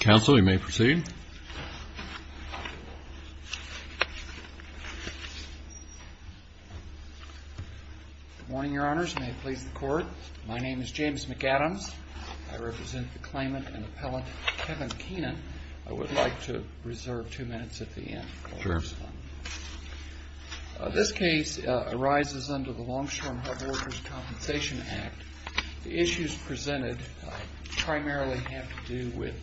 Counsel, you may proceed. Good morning, Your Honors. May it please the Court, my name is James McAdams. I represent the claimant and appellant Kevin Keenan. I would like to reserve two minutes at the end. This case arises under the Longshore and Harbor Workers' Compensation Act. The issues presented primarily have to do with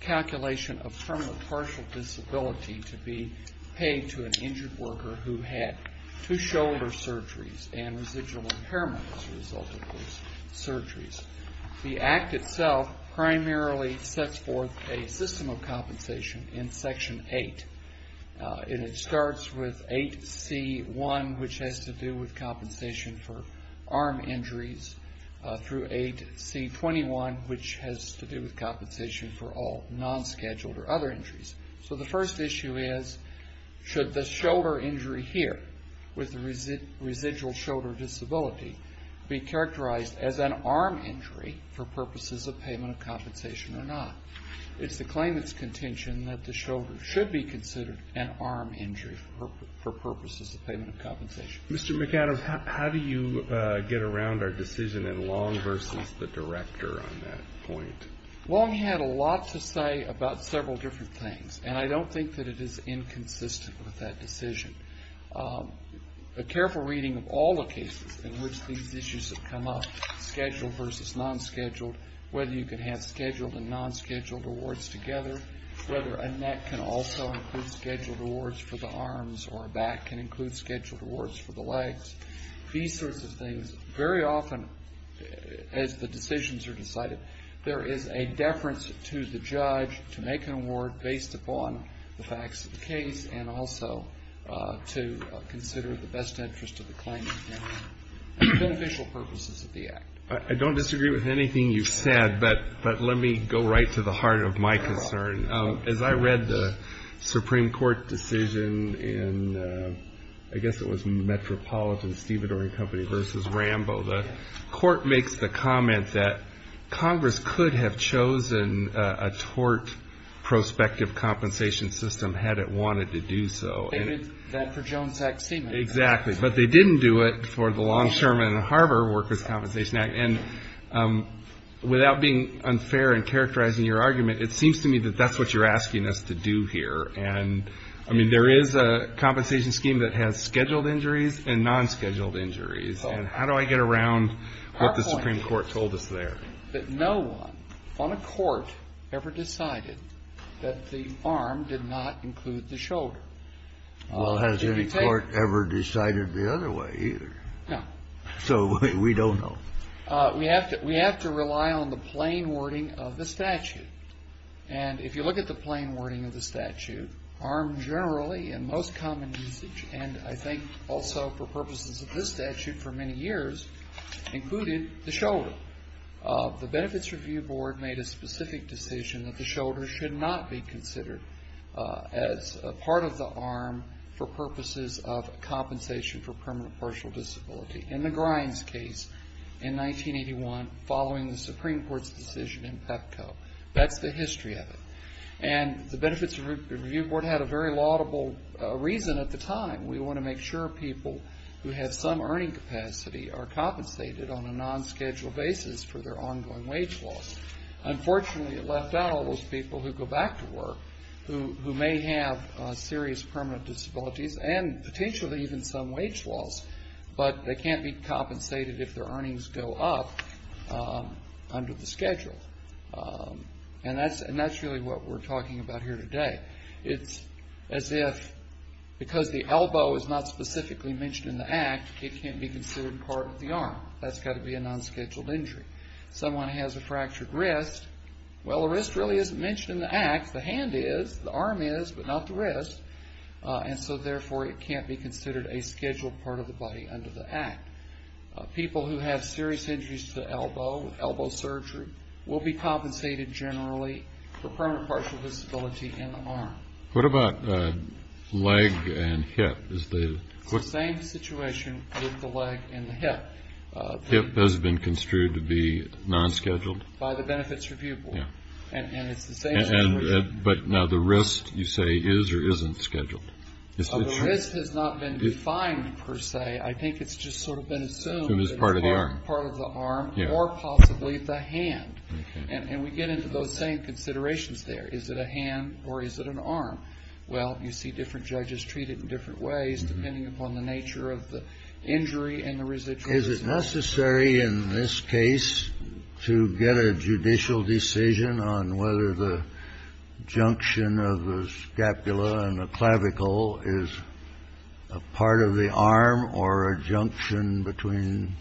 calculation of permanent partial disability to be paid to an injured worker who had two shoulder surgeries and residual impairment as a result of those surgeries. The Act itself primarily sets forth a system of compensation in Section 8. It starts with 8C1, which has to do with compensation for arm injuries, through 8C21, which has to do with compensation for all non-scheduled or other injuries. So the first issue is, should the shoulder injury here, with the residual shoulder disability, be characterized as an arm injury for purposes of payment of compensation or not? It's the claimant's contention that the shoulder should be considered an arm injury for purposes of payment of compensation. Mr. McAdams, how do you get around our decision in Long v. the Director on that point? Well, he had a lot to say about several different things, and I don't think that it is inconsistent with that decision. A careful reading of all the cases in which these issues have come up, scheduled versus non-scheduled, whether you can have scheduled and non-scheduled awards together, whether a neck can also include scheduled awards for the arms or a back can include scheduled awards for the legs, these sorts of things. Very often, as the decisions are decided, there is a deference to the judge to make an award based upon the facts of the case and also to consider the best interest of the claimant for the beneficial purposes of the act. I don't disagree with anything you've said, but let me go right to the heart of my concern. As I read the Supreme Court decision in, I guess it was Metropolitan, Stevedore & Company v. Rambo, the Court makes the comment that Congress could have chosen a tort prospective compensation system had it wanted to do so. Exactly. But they didn't do it for the Long, Sherman & Harbor Workers' Compensation Act. And without being unfair in characterizing your argument, it seems to me that that's what you're asking us to do here. And, I mean, there is a compensation scheme that has scheduled injuries and non-scheduled injuries. And how do I get around what the Supreme Court told us there? That no one on a court ever decided that the arm did not include the shoulder. Well, has any court ever decided the other way either? No. So we don't know. We have to rely on the plain wording of the statute. And if you look at the plain wording of the statute, arm generally and most common usage, and I think also for purposes of this statute for many years, included the shoulder. The Benefits Review Board made a specific decision that the shoulder should not be considered as a part of the arm for purposes of compensation for permanent partial disability. In the Grimes case in 1981, following the Supreme Court's decision in PEPCO. That's the history of it. And the Benefits Review Board had a very laudable reason at the time. We want to make sure people who have some earning capacity are compensated on a non-scheduled basis for their ongoing wage loss. Unfortunately, it left out all those people who go back to work who may have serious permanent disabilities and potentially even some wage loss, but they can't be compensated if their earnings go up under the schedule. And that's really what we're talking about here today. It's as if because the elbow is not specifically mentioned in the act, it can't be considered part of the arm. That's got to be a non-scheduled injury. Someone has a fractured wrist. Well, the wrist really isn't mentioned in the act. The hand is. The arm is, but not the wrist. And so, therefore, it can't be considered a scheduled part of the body under the act. People who have serious injuries to the elbow, elbow surgery, will be compensated generally for permanent partial disability in the arm. What about leg and hip? It's the same situation with the leg and the hip. Hip has been construed to be non-scheduled? By the Benefits Review Board. And it's the same situation. But now the wrist, you say, is or isn't scheduled? The wrist has not been defined per se. I think it's just sort of been assumed that it's part of the arm or possibly the hand. And we get into those same considerations there. Is it a hand or is it an arm? Well, you see different judges treat it in different ways depending upon the nature of the injury and the residuals. Is it necessary in this case to get a judicial decision on whether the junction of the scapula and the clavicle is a part of the arm or a junction between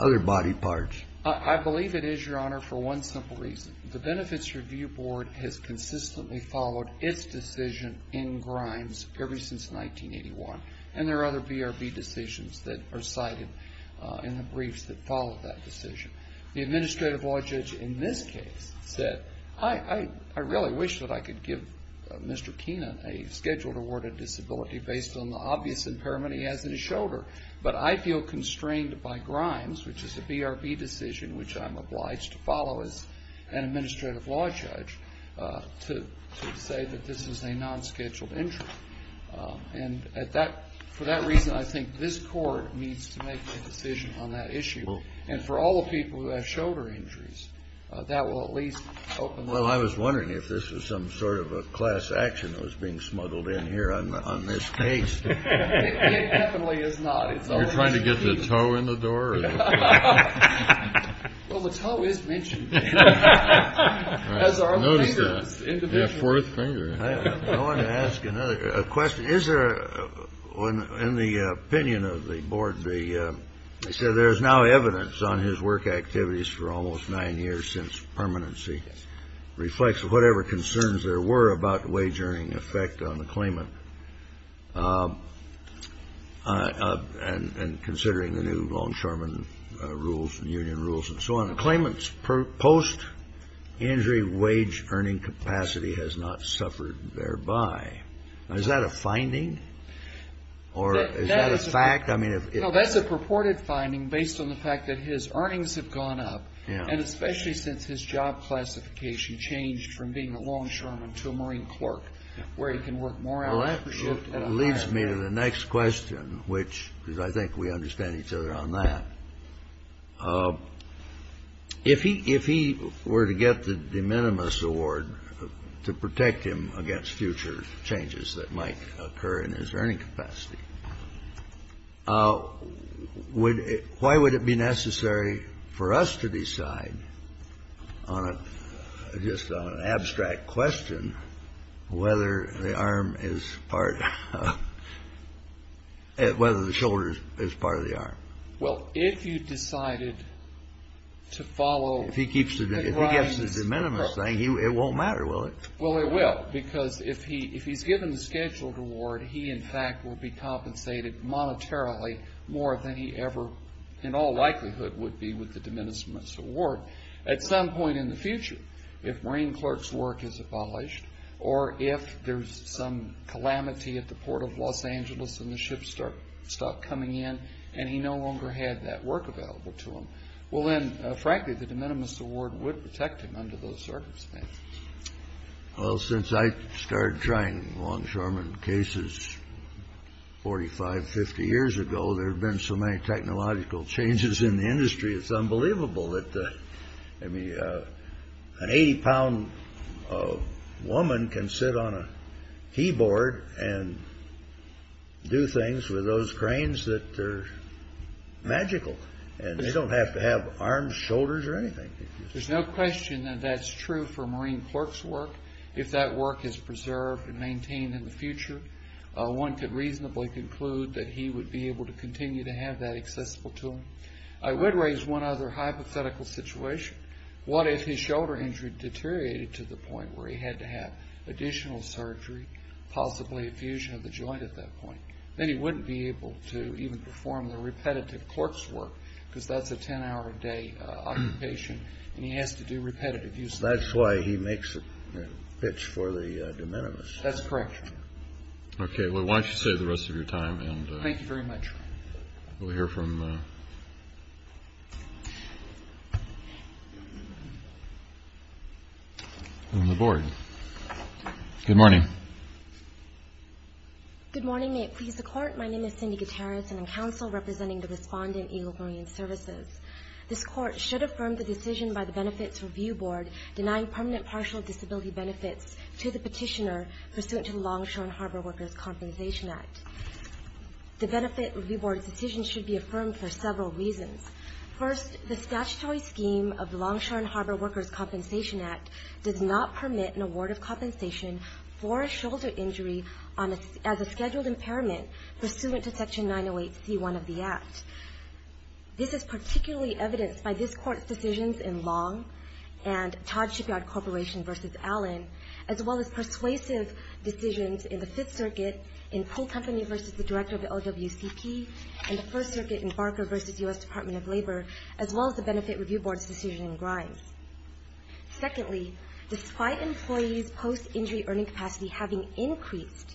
other body parts? I believe it is, Your Honor, for one simple reason. The Benefits Review Board has consistently followed its decision in Grimes ever since 1981. And there are other BRB decisions that are cited in the briefs that follow that decision. The Administrative Law Judge in this case said, I really wish that I could give Mr. Keenan a scheduled award of disability based on the obvious impairment he has in his shoulder. But I feel constrained by Grimes, which is a BRB decision which I'm obliged to follow as an Administrative Law Judge, to say that this is a non-scheduled injury. And for that reason, I think this Court needs to make a decision on that issue. And for all the people who have shoulder injuries, that will at least open them up. Well, I was wondering if this was some sort of a class action that was being smuggled in here on this case. It definitely is not. Are you trying to get the toe in the door? Well, the toe is mentioned as our leader's individual. I wanted to ask another question. Is there, in the opinion of the Board, they said there is now evidence on his work activities for almost nine years since permanency. Reflects whatever concerns there were about the wage earning effect on the claimant. And considering the new longshoreman rules and union rules and so on. The claimant's post-injury wage earning capacity has not suffered thereby. Is that a finding? Or is that a fact? Well, that's a purported finding based on the fact that his earnings have gone up. And especially since his job classification changed from being a longshoreman to a marine clerk, where he can work more hours per shift. Well, that leads me to the next question, which, because I think we understand each other on that. If he were to get the de minimis award to protect him against future changes that might occur in his earning capacity, why would it be necessary for us to decide on a just on an abstract question whether the arm is part of the arm, whether the shoulder is part of the arm? Well, if you decided to follow... If he gets the de minimis thing, it won't matter, will it? Well, it will. Because if he's given the scheduled award, he, in fact, will be compensated monetarily more than he ever, in all likelihood, would be with the de minimis award at some point in the future. If marine clerk's work is abolished or if there's some calamity at the port of Los Angeles and the ships stop coming in and he no longer had that work available to him, well then, frankly, the de minimis award would protect him under those circumstances. Well, since I started trying longshoreman cases 45, 50 years ago, there have been so many technological changes in the industry. It's unbelievable that an 80-pound woman can sit on a keyboard and do things with those cranes that are magical, and they don't have to have arms, shoulders, or anything. There's no question that that's true for marine clerk's work. If that work is preserved and maintained in the future, one could reasonably conclude that he would be able to continue to have that accessible to him. I would raise one other hypothetical situation. What if his shoulder injury deteriorated to the point where he had to have additional surgery, possibly a fusion of the joint at that point? Then he wouldn't be able to even perform the repetitive clerk's work because that's a 10-hour-a-day occupation, and he has to do repetitive use of it. That's why he makes the pitch for the de minimis. That's correct, Your Honor. Okay. Well, why don't you save the rest of your time. Thank you very much, Your Honor. We'll hear from the board. Good morning. Good morning. May it please the Court, my name is Cindy Gutierrez, and I'm counsel representing the respondent, Eagle Marine Services. This Court should affirm the decision by the Benefits Review Board denying permanent partial disability benefits to the petitioner pursuant to the Longshore and Harbor Workers' Compensation Act. The Benefits Review Board's decision should be affirmed for several reasons. First, the statutory scheme of the Longshore and Harbor Workers' Compensation Act does not permit an award of compensation for a shoulder injury as a scheduled impairment pursuant to Section 908c1 of the Act. This is particularly evidenced by this Court's decisions in Long and Todd Shipyard Corporation v. Allen, as well as persuasive decisions in the Fifth Circuit in Poole Company v. the Director of the LWCP and the First Circuit in Barker v. U.S. Department of Labor, as well as the Benefits Review Board's decision in Grimes. Secondly, despite employees' post-injury earning capacity having increased,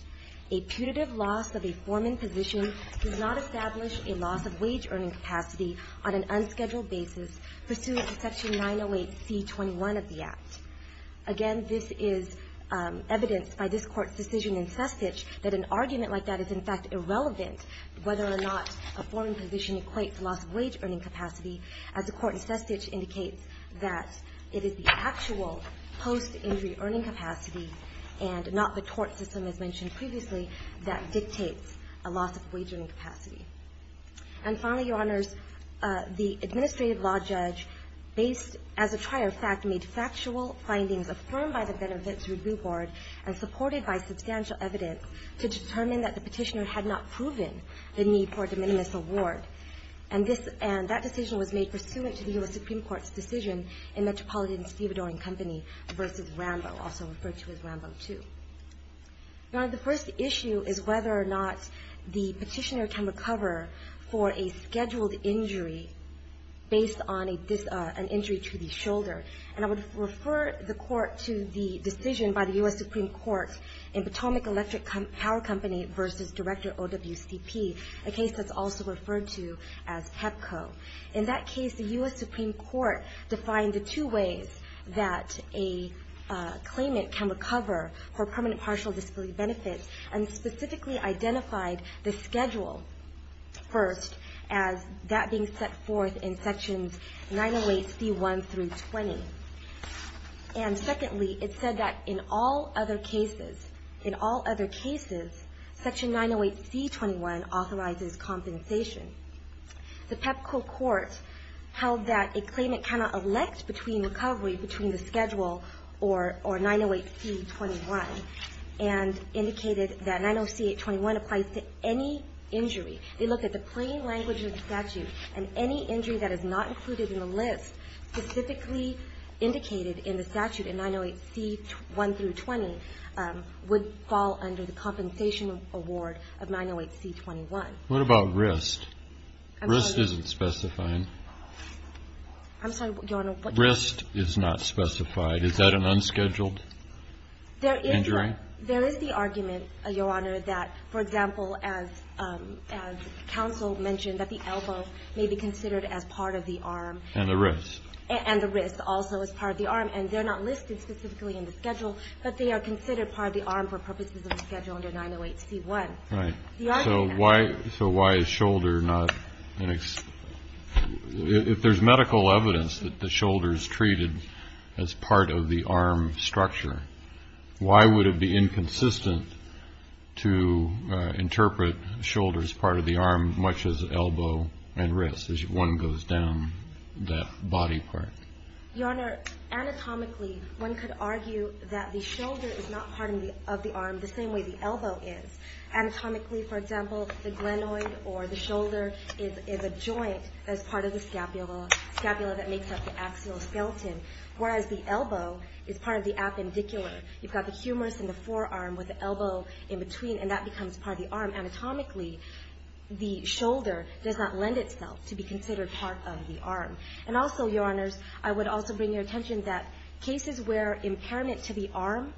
a putative loss of a foreman position does not establish a loss of wage earning capacity on an unscheduled basis pursuant to Section 908c21 of the Act. Again, this is evidenced by this Court's decision in Sestich that an argument like that is, in fact, irrelevant whether or not a foreman position equates a loss of wage earning capacity, as the Court in Sestich indicates that it is the actual post-injury earning capacity and not the tort system, as mentioned previously, that dictates a loss of wage earning capacity. And finally, Your Honors, the administrative law judge, based, as a trier fact, made factual findings affirmed by the Benefits Review Board and supported by substantial evidence to determine that the petitioner had not proven the need for a de minimis award. And that decision was made pursuant to the U.S. Supreme Court's decision in Metropolitan and Stevedore & Company v. Rambo, also referred to as Rambo II. Now, the first issue is whether or not the petitioner can recover for a scheduled injury based on an injury to the shoulder. And I would refer the Court to the decision by the U.S. Supreme Court in Potomac Electric Power Company v. Director OWCP, a case that's also referred to as Pepco. In that case, the U.S. Supreme Court defined the two ways that a claimant can recover for permanent partial disability benefits and specifically identified the schedule first as that being set forth in sections 908C1 through 20. And secondly, it said that in all other cases, in all other cases, section 908C21 authorizes compensation. The Pepco court held that a claimant cannot elect between recovery, between the schedule or 908C21, and indicated that 908C21 applies to any injury. They looked at the plain language of the statute, and any injury that is not included in the list specifically indicated in the statute in 908C1 through 20 would fall under the compensation award of 908C21. What about wrist? Wrist isn't specified. I'm sorry, Your Honor. Wrist is not specified. Is that an unscheduled injury? There is the argument, Your Honor, that, for example, as counsel mentioned, that the elbow may be considered as part of the arm. And the wrist. And the wrist also is part of the arm. And they're not listed specifically in the schedule, but they are considered part of the arm for purposes of the schedule under 908C1. Right. So why is shoulder not an ex- If there's medical evidence that the shoulder is treated as part of the arm structure, why would it be inconsistent to interpret shoulder as part of the arm, much as elbow and wrist as one goes down that body part? Your Honor, anatomically, one could argue that the shoulder is not part of the arm the same way the elbow is. Anatomically, for example, the glenoid or the shoulder is a joint as part of the scapula, scapula that makes up the axial skeleton, whereas the elbow is part of the appendicular. You've got the humerus and the forearm with the elbow in between, and that becomes part of the arm. Anatomically, the shoulder does not lend itself to be considered part of the arm. And also, Your Honors, I would also bring your attention that cases where impairment to the arm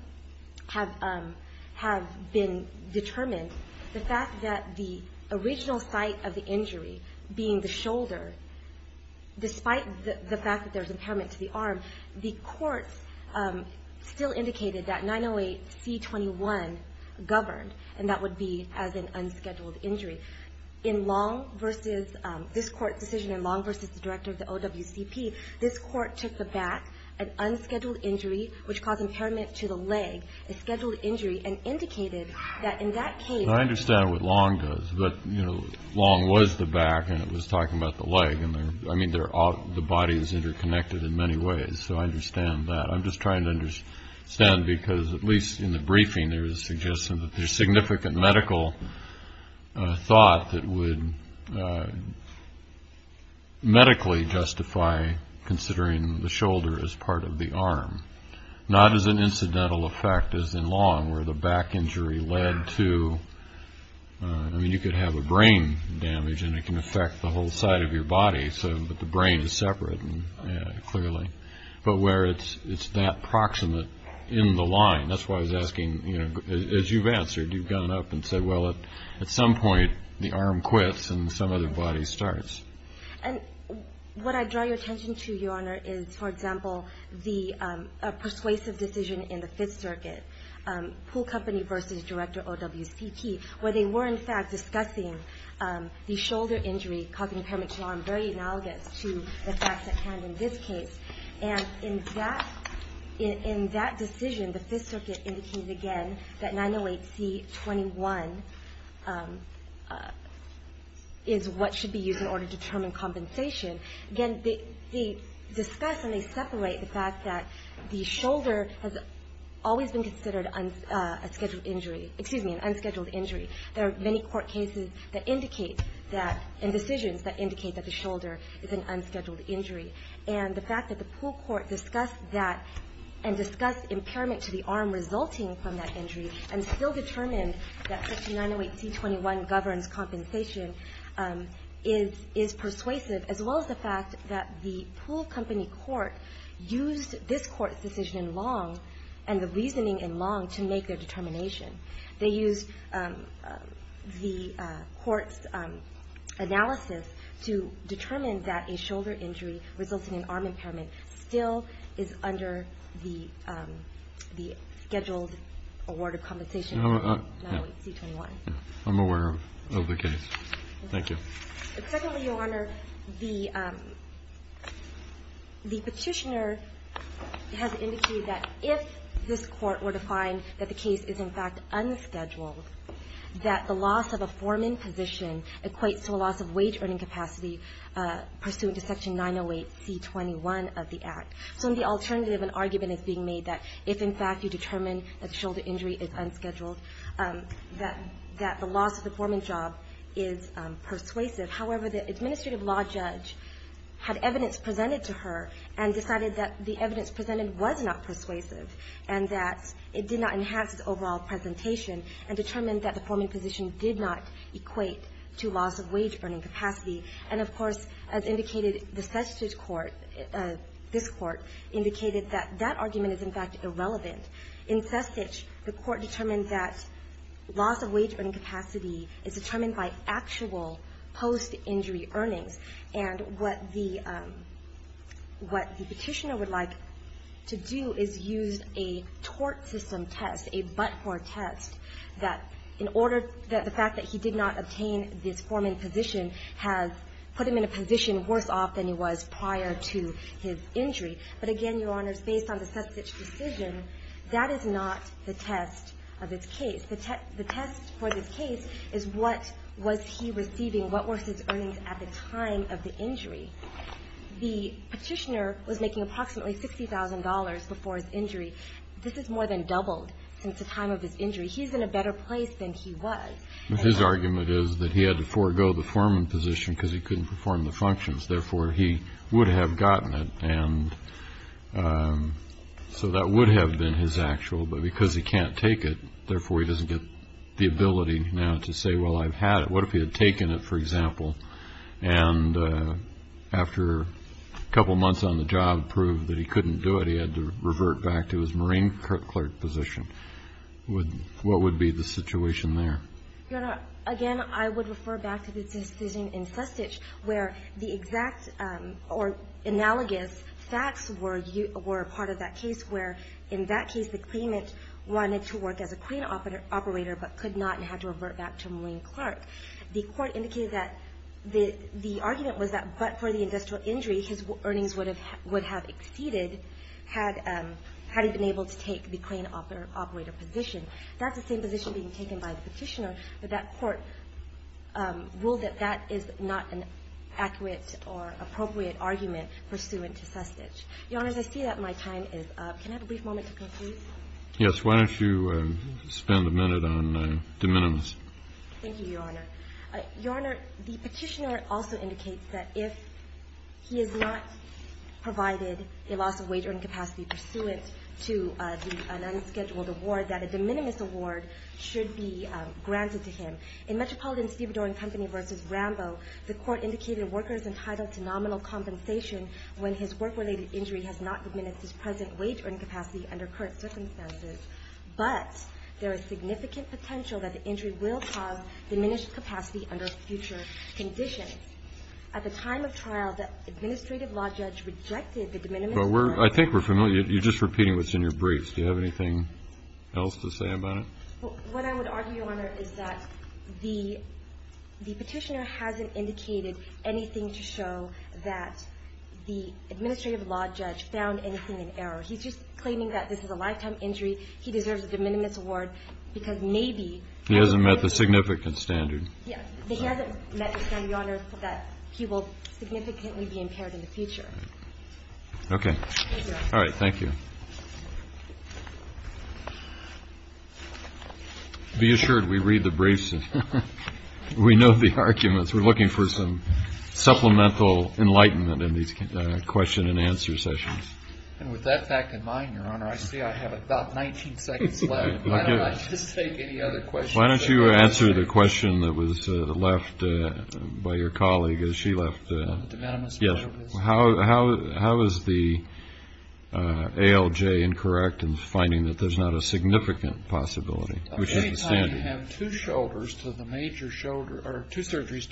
have been determined, the fact that the original site of the injury being the shoulder, despite the fact that there's impairment to the arm, the courts still indicated that 908C21 governed, and that would be as an unscheduled injury. In Long v. This Court's decision in Long v. The Director of the OWCP, this court took the back, an unscheduled injury, which caused impairment to the leg, a scheduled injury, and indicated that in that case. I understand what Long does, but, you know, Long was the back and it was talking about the leg. I mean, the body is interconnected in many ways, so I understand that. I'm just trying to understand because, at least in the briefing, there was a suggestion that there's significant medical thought that would medically justify considering the shoulder as part of the arm. Not as an incidental effect as in Long, where the back injury led to, I mean, you could have a brain damage and it can affect the whole side of your body, but the brain is separate clearly. But where it's that proximate in the line, that's why I was asking, you know, as you've answered, you've gone up and said, well, at some point, the arm quits and some other body starts. And what I draw your attention to, Your Honor, is, for example, the persuasive decision in the Fifth Circuit, Poole Company v. Director OWCP, where they were, in fact, discussing the shoulder injury causing impairment to the arm very analogous to the facts at hand in this case. And in that decision, the Fifth Circuit indicated again that 908C21 is what should be used in order to determine compensation. Again, they discuss and they separate the fact that the shoulder has always been considered an unscheduled injury. There are many court cases that indicate that, and decisions that indicate that the shoulder is an unscheduled injury. And the fact that the Poole Court discussed that and discussed impairment to the arm resulting from that injury and still determined that section 908C21 governs compensation is persuasive, as well as the fact that the Poole Company court used this court's decision in Long and the reasoning in Long to make their determination. They used the court's analysis to determine that a shoulder injury resulting in arm impairment still is under the scheduled award of compensation for 908C21. I'm aware of the case. Thank you. Secondly, Your Honor, the Petitioner has indicated that if this Court were to find that the case is, in fact, unscheduled, that the loss of a foreman position equates to a loss of wage-earning capacity pursuant to section 908C21 of the Act. So the alternative argument is being made that if, in fact, you determine that the shoulder injury is unscheduled, that the loss of the foreman job is persuasive. However, the administrative law judge had evidence presented to her and decided that the evidence presented was not persuasive and that it did not enhance its overall presentation and determined that the foreman position did not equate to loss of wage-earning capacity. And, of course, as indicated, the Sestich Court, this Court, indicated that that argument is, in fact, irrelevant. In Sestich, the Court determined that loss of wage-earning capacity is determined by actual post-injury earnings. And what the Petitioner would like to do is use a tort system test, a but-for test, that in order that the fact that he did not obtain this foreman position has put him in a position worse off than he was prior to his injury. But, again, Your Honors, based on the Sestich decision, that is not the test of its case. The test for this case is what was he receiving, what were his earnings at the time of the injury. The Petitioner was making approximately $60,000 before his injury. This has more than doubled since the time of his injury. He's in a better place than he was. His argument is that he had to forego the foreman position because he couldn't perform the functions, therefore he would have gotten it. And so that would have been his actual, but because he can't take it, therefore he doesn't get the ability now to say, well, I've had it. What if he had taken it, for example, and after a couple months on the job proved that he couldn't do it, he had to revert back to his marine clerk position? What would be the situation there? Your Honor, again, I would refer back to the decision in Sestich where the exact or analogous facts were part of that case where in that case the claimant wanted to work as a crane operator but could not and had to revert back to marine clerk. The Court indicated that the argument was that but for the industrial injury, his earnings would have exceeded had he been able to take the crane operator position. That's the same position being taken by the Petitioner, but that Court ruled that that is not an accurate or appropriate argument pursuant to Sestich. Your Honor, as I see that, my time is up. Can I have a brief moment to conclude? Yes. Why don't you spend a minute on de minimis? Thank you, Your Honor. Your Honor, the Petitioner also indicates that if he has not provided a loss of wage earning capacity pursuant to an unscheduled award, that a de minimis award should be granted to him. In Metropolitan Stevedore & Company v. Rambo, the Court indicated a worker is entitled to nominal compensation when his work-related injury has not diminished his present wage earning capacity under current circumstances. But there is significant potential that the injury will cause diminished capacity under future conditions. At the time of trial, the Administrative Law Judge rejected the de minimis award. I think we're familiar. You're just repeating what's in your briefs. Do you have anything else to say about it? What I would argue, Your Honor, is that the Petitioner hasn't indicated anything to show that the Administrative Law Judge found anything in error. He's just claiming that this is a lifetime injury. He deserves a de minimis award, because maybe... He hasn't met the significance standard. Yes. He hasn't met the standard, Your Honor, that he will significantly be impaired in the future. Okay. Thank you. All right. Thank you. Be assured, we read the briefs and we know the arguments. We're looking for some supplemental enlightenment in these question-and-answer sessions. And with that fact in mind, Your Honor, I see I have about 19 seconds left. Why don't I just take any other questions? Why don't you answer the question that was left by your colleague as she left? On the de minimis measure? Yes. How is the ALJ incorrect in finding that there's not a significant possibility? Any time you have two surgeries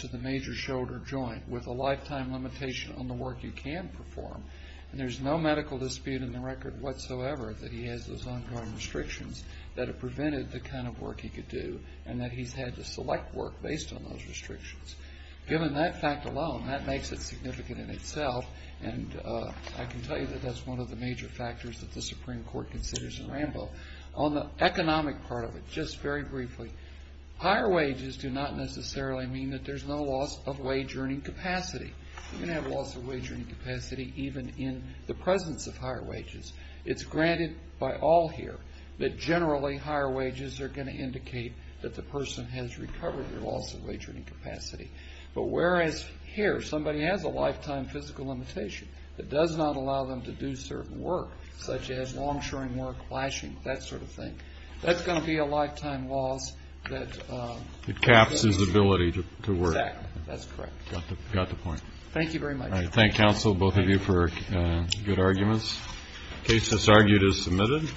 to the major shoulder joint with a lifetime limitation on the work you can perform, and there's no medical dispute in the record whatsoever that he has those ongoing restrictions that have prevented the kind of work he could do, and that he's had to select work based on those restrictions. Given that fact alone, that makes it significant in itself, and I can tell you that that's one of the major factors that the Supreme Court considers in Rambo. On the economic part of it, just very briefly, higher wages do not necessarily mean that there's no loss of wage-earning capacity. You can have loss of wage-earning capacity even in the presence of higher wages. It's granted by all here that generally higher wages are going to indicate that the person has recovered their loss of wage-earning capacity. But whereas here somebody has a lifetime physical limitation that does not allow them to do certain work, such as long-shoring work, flashing, that sort of thing, that's going to be a That's correct. Got the point. Thank you very much. I thank counsel, both of you, for good arguments. The case that's argued is submitted.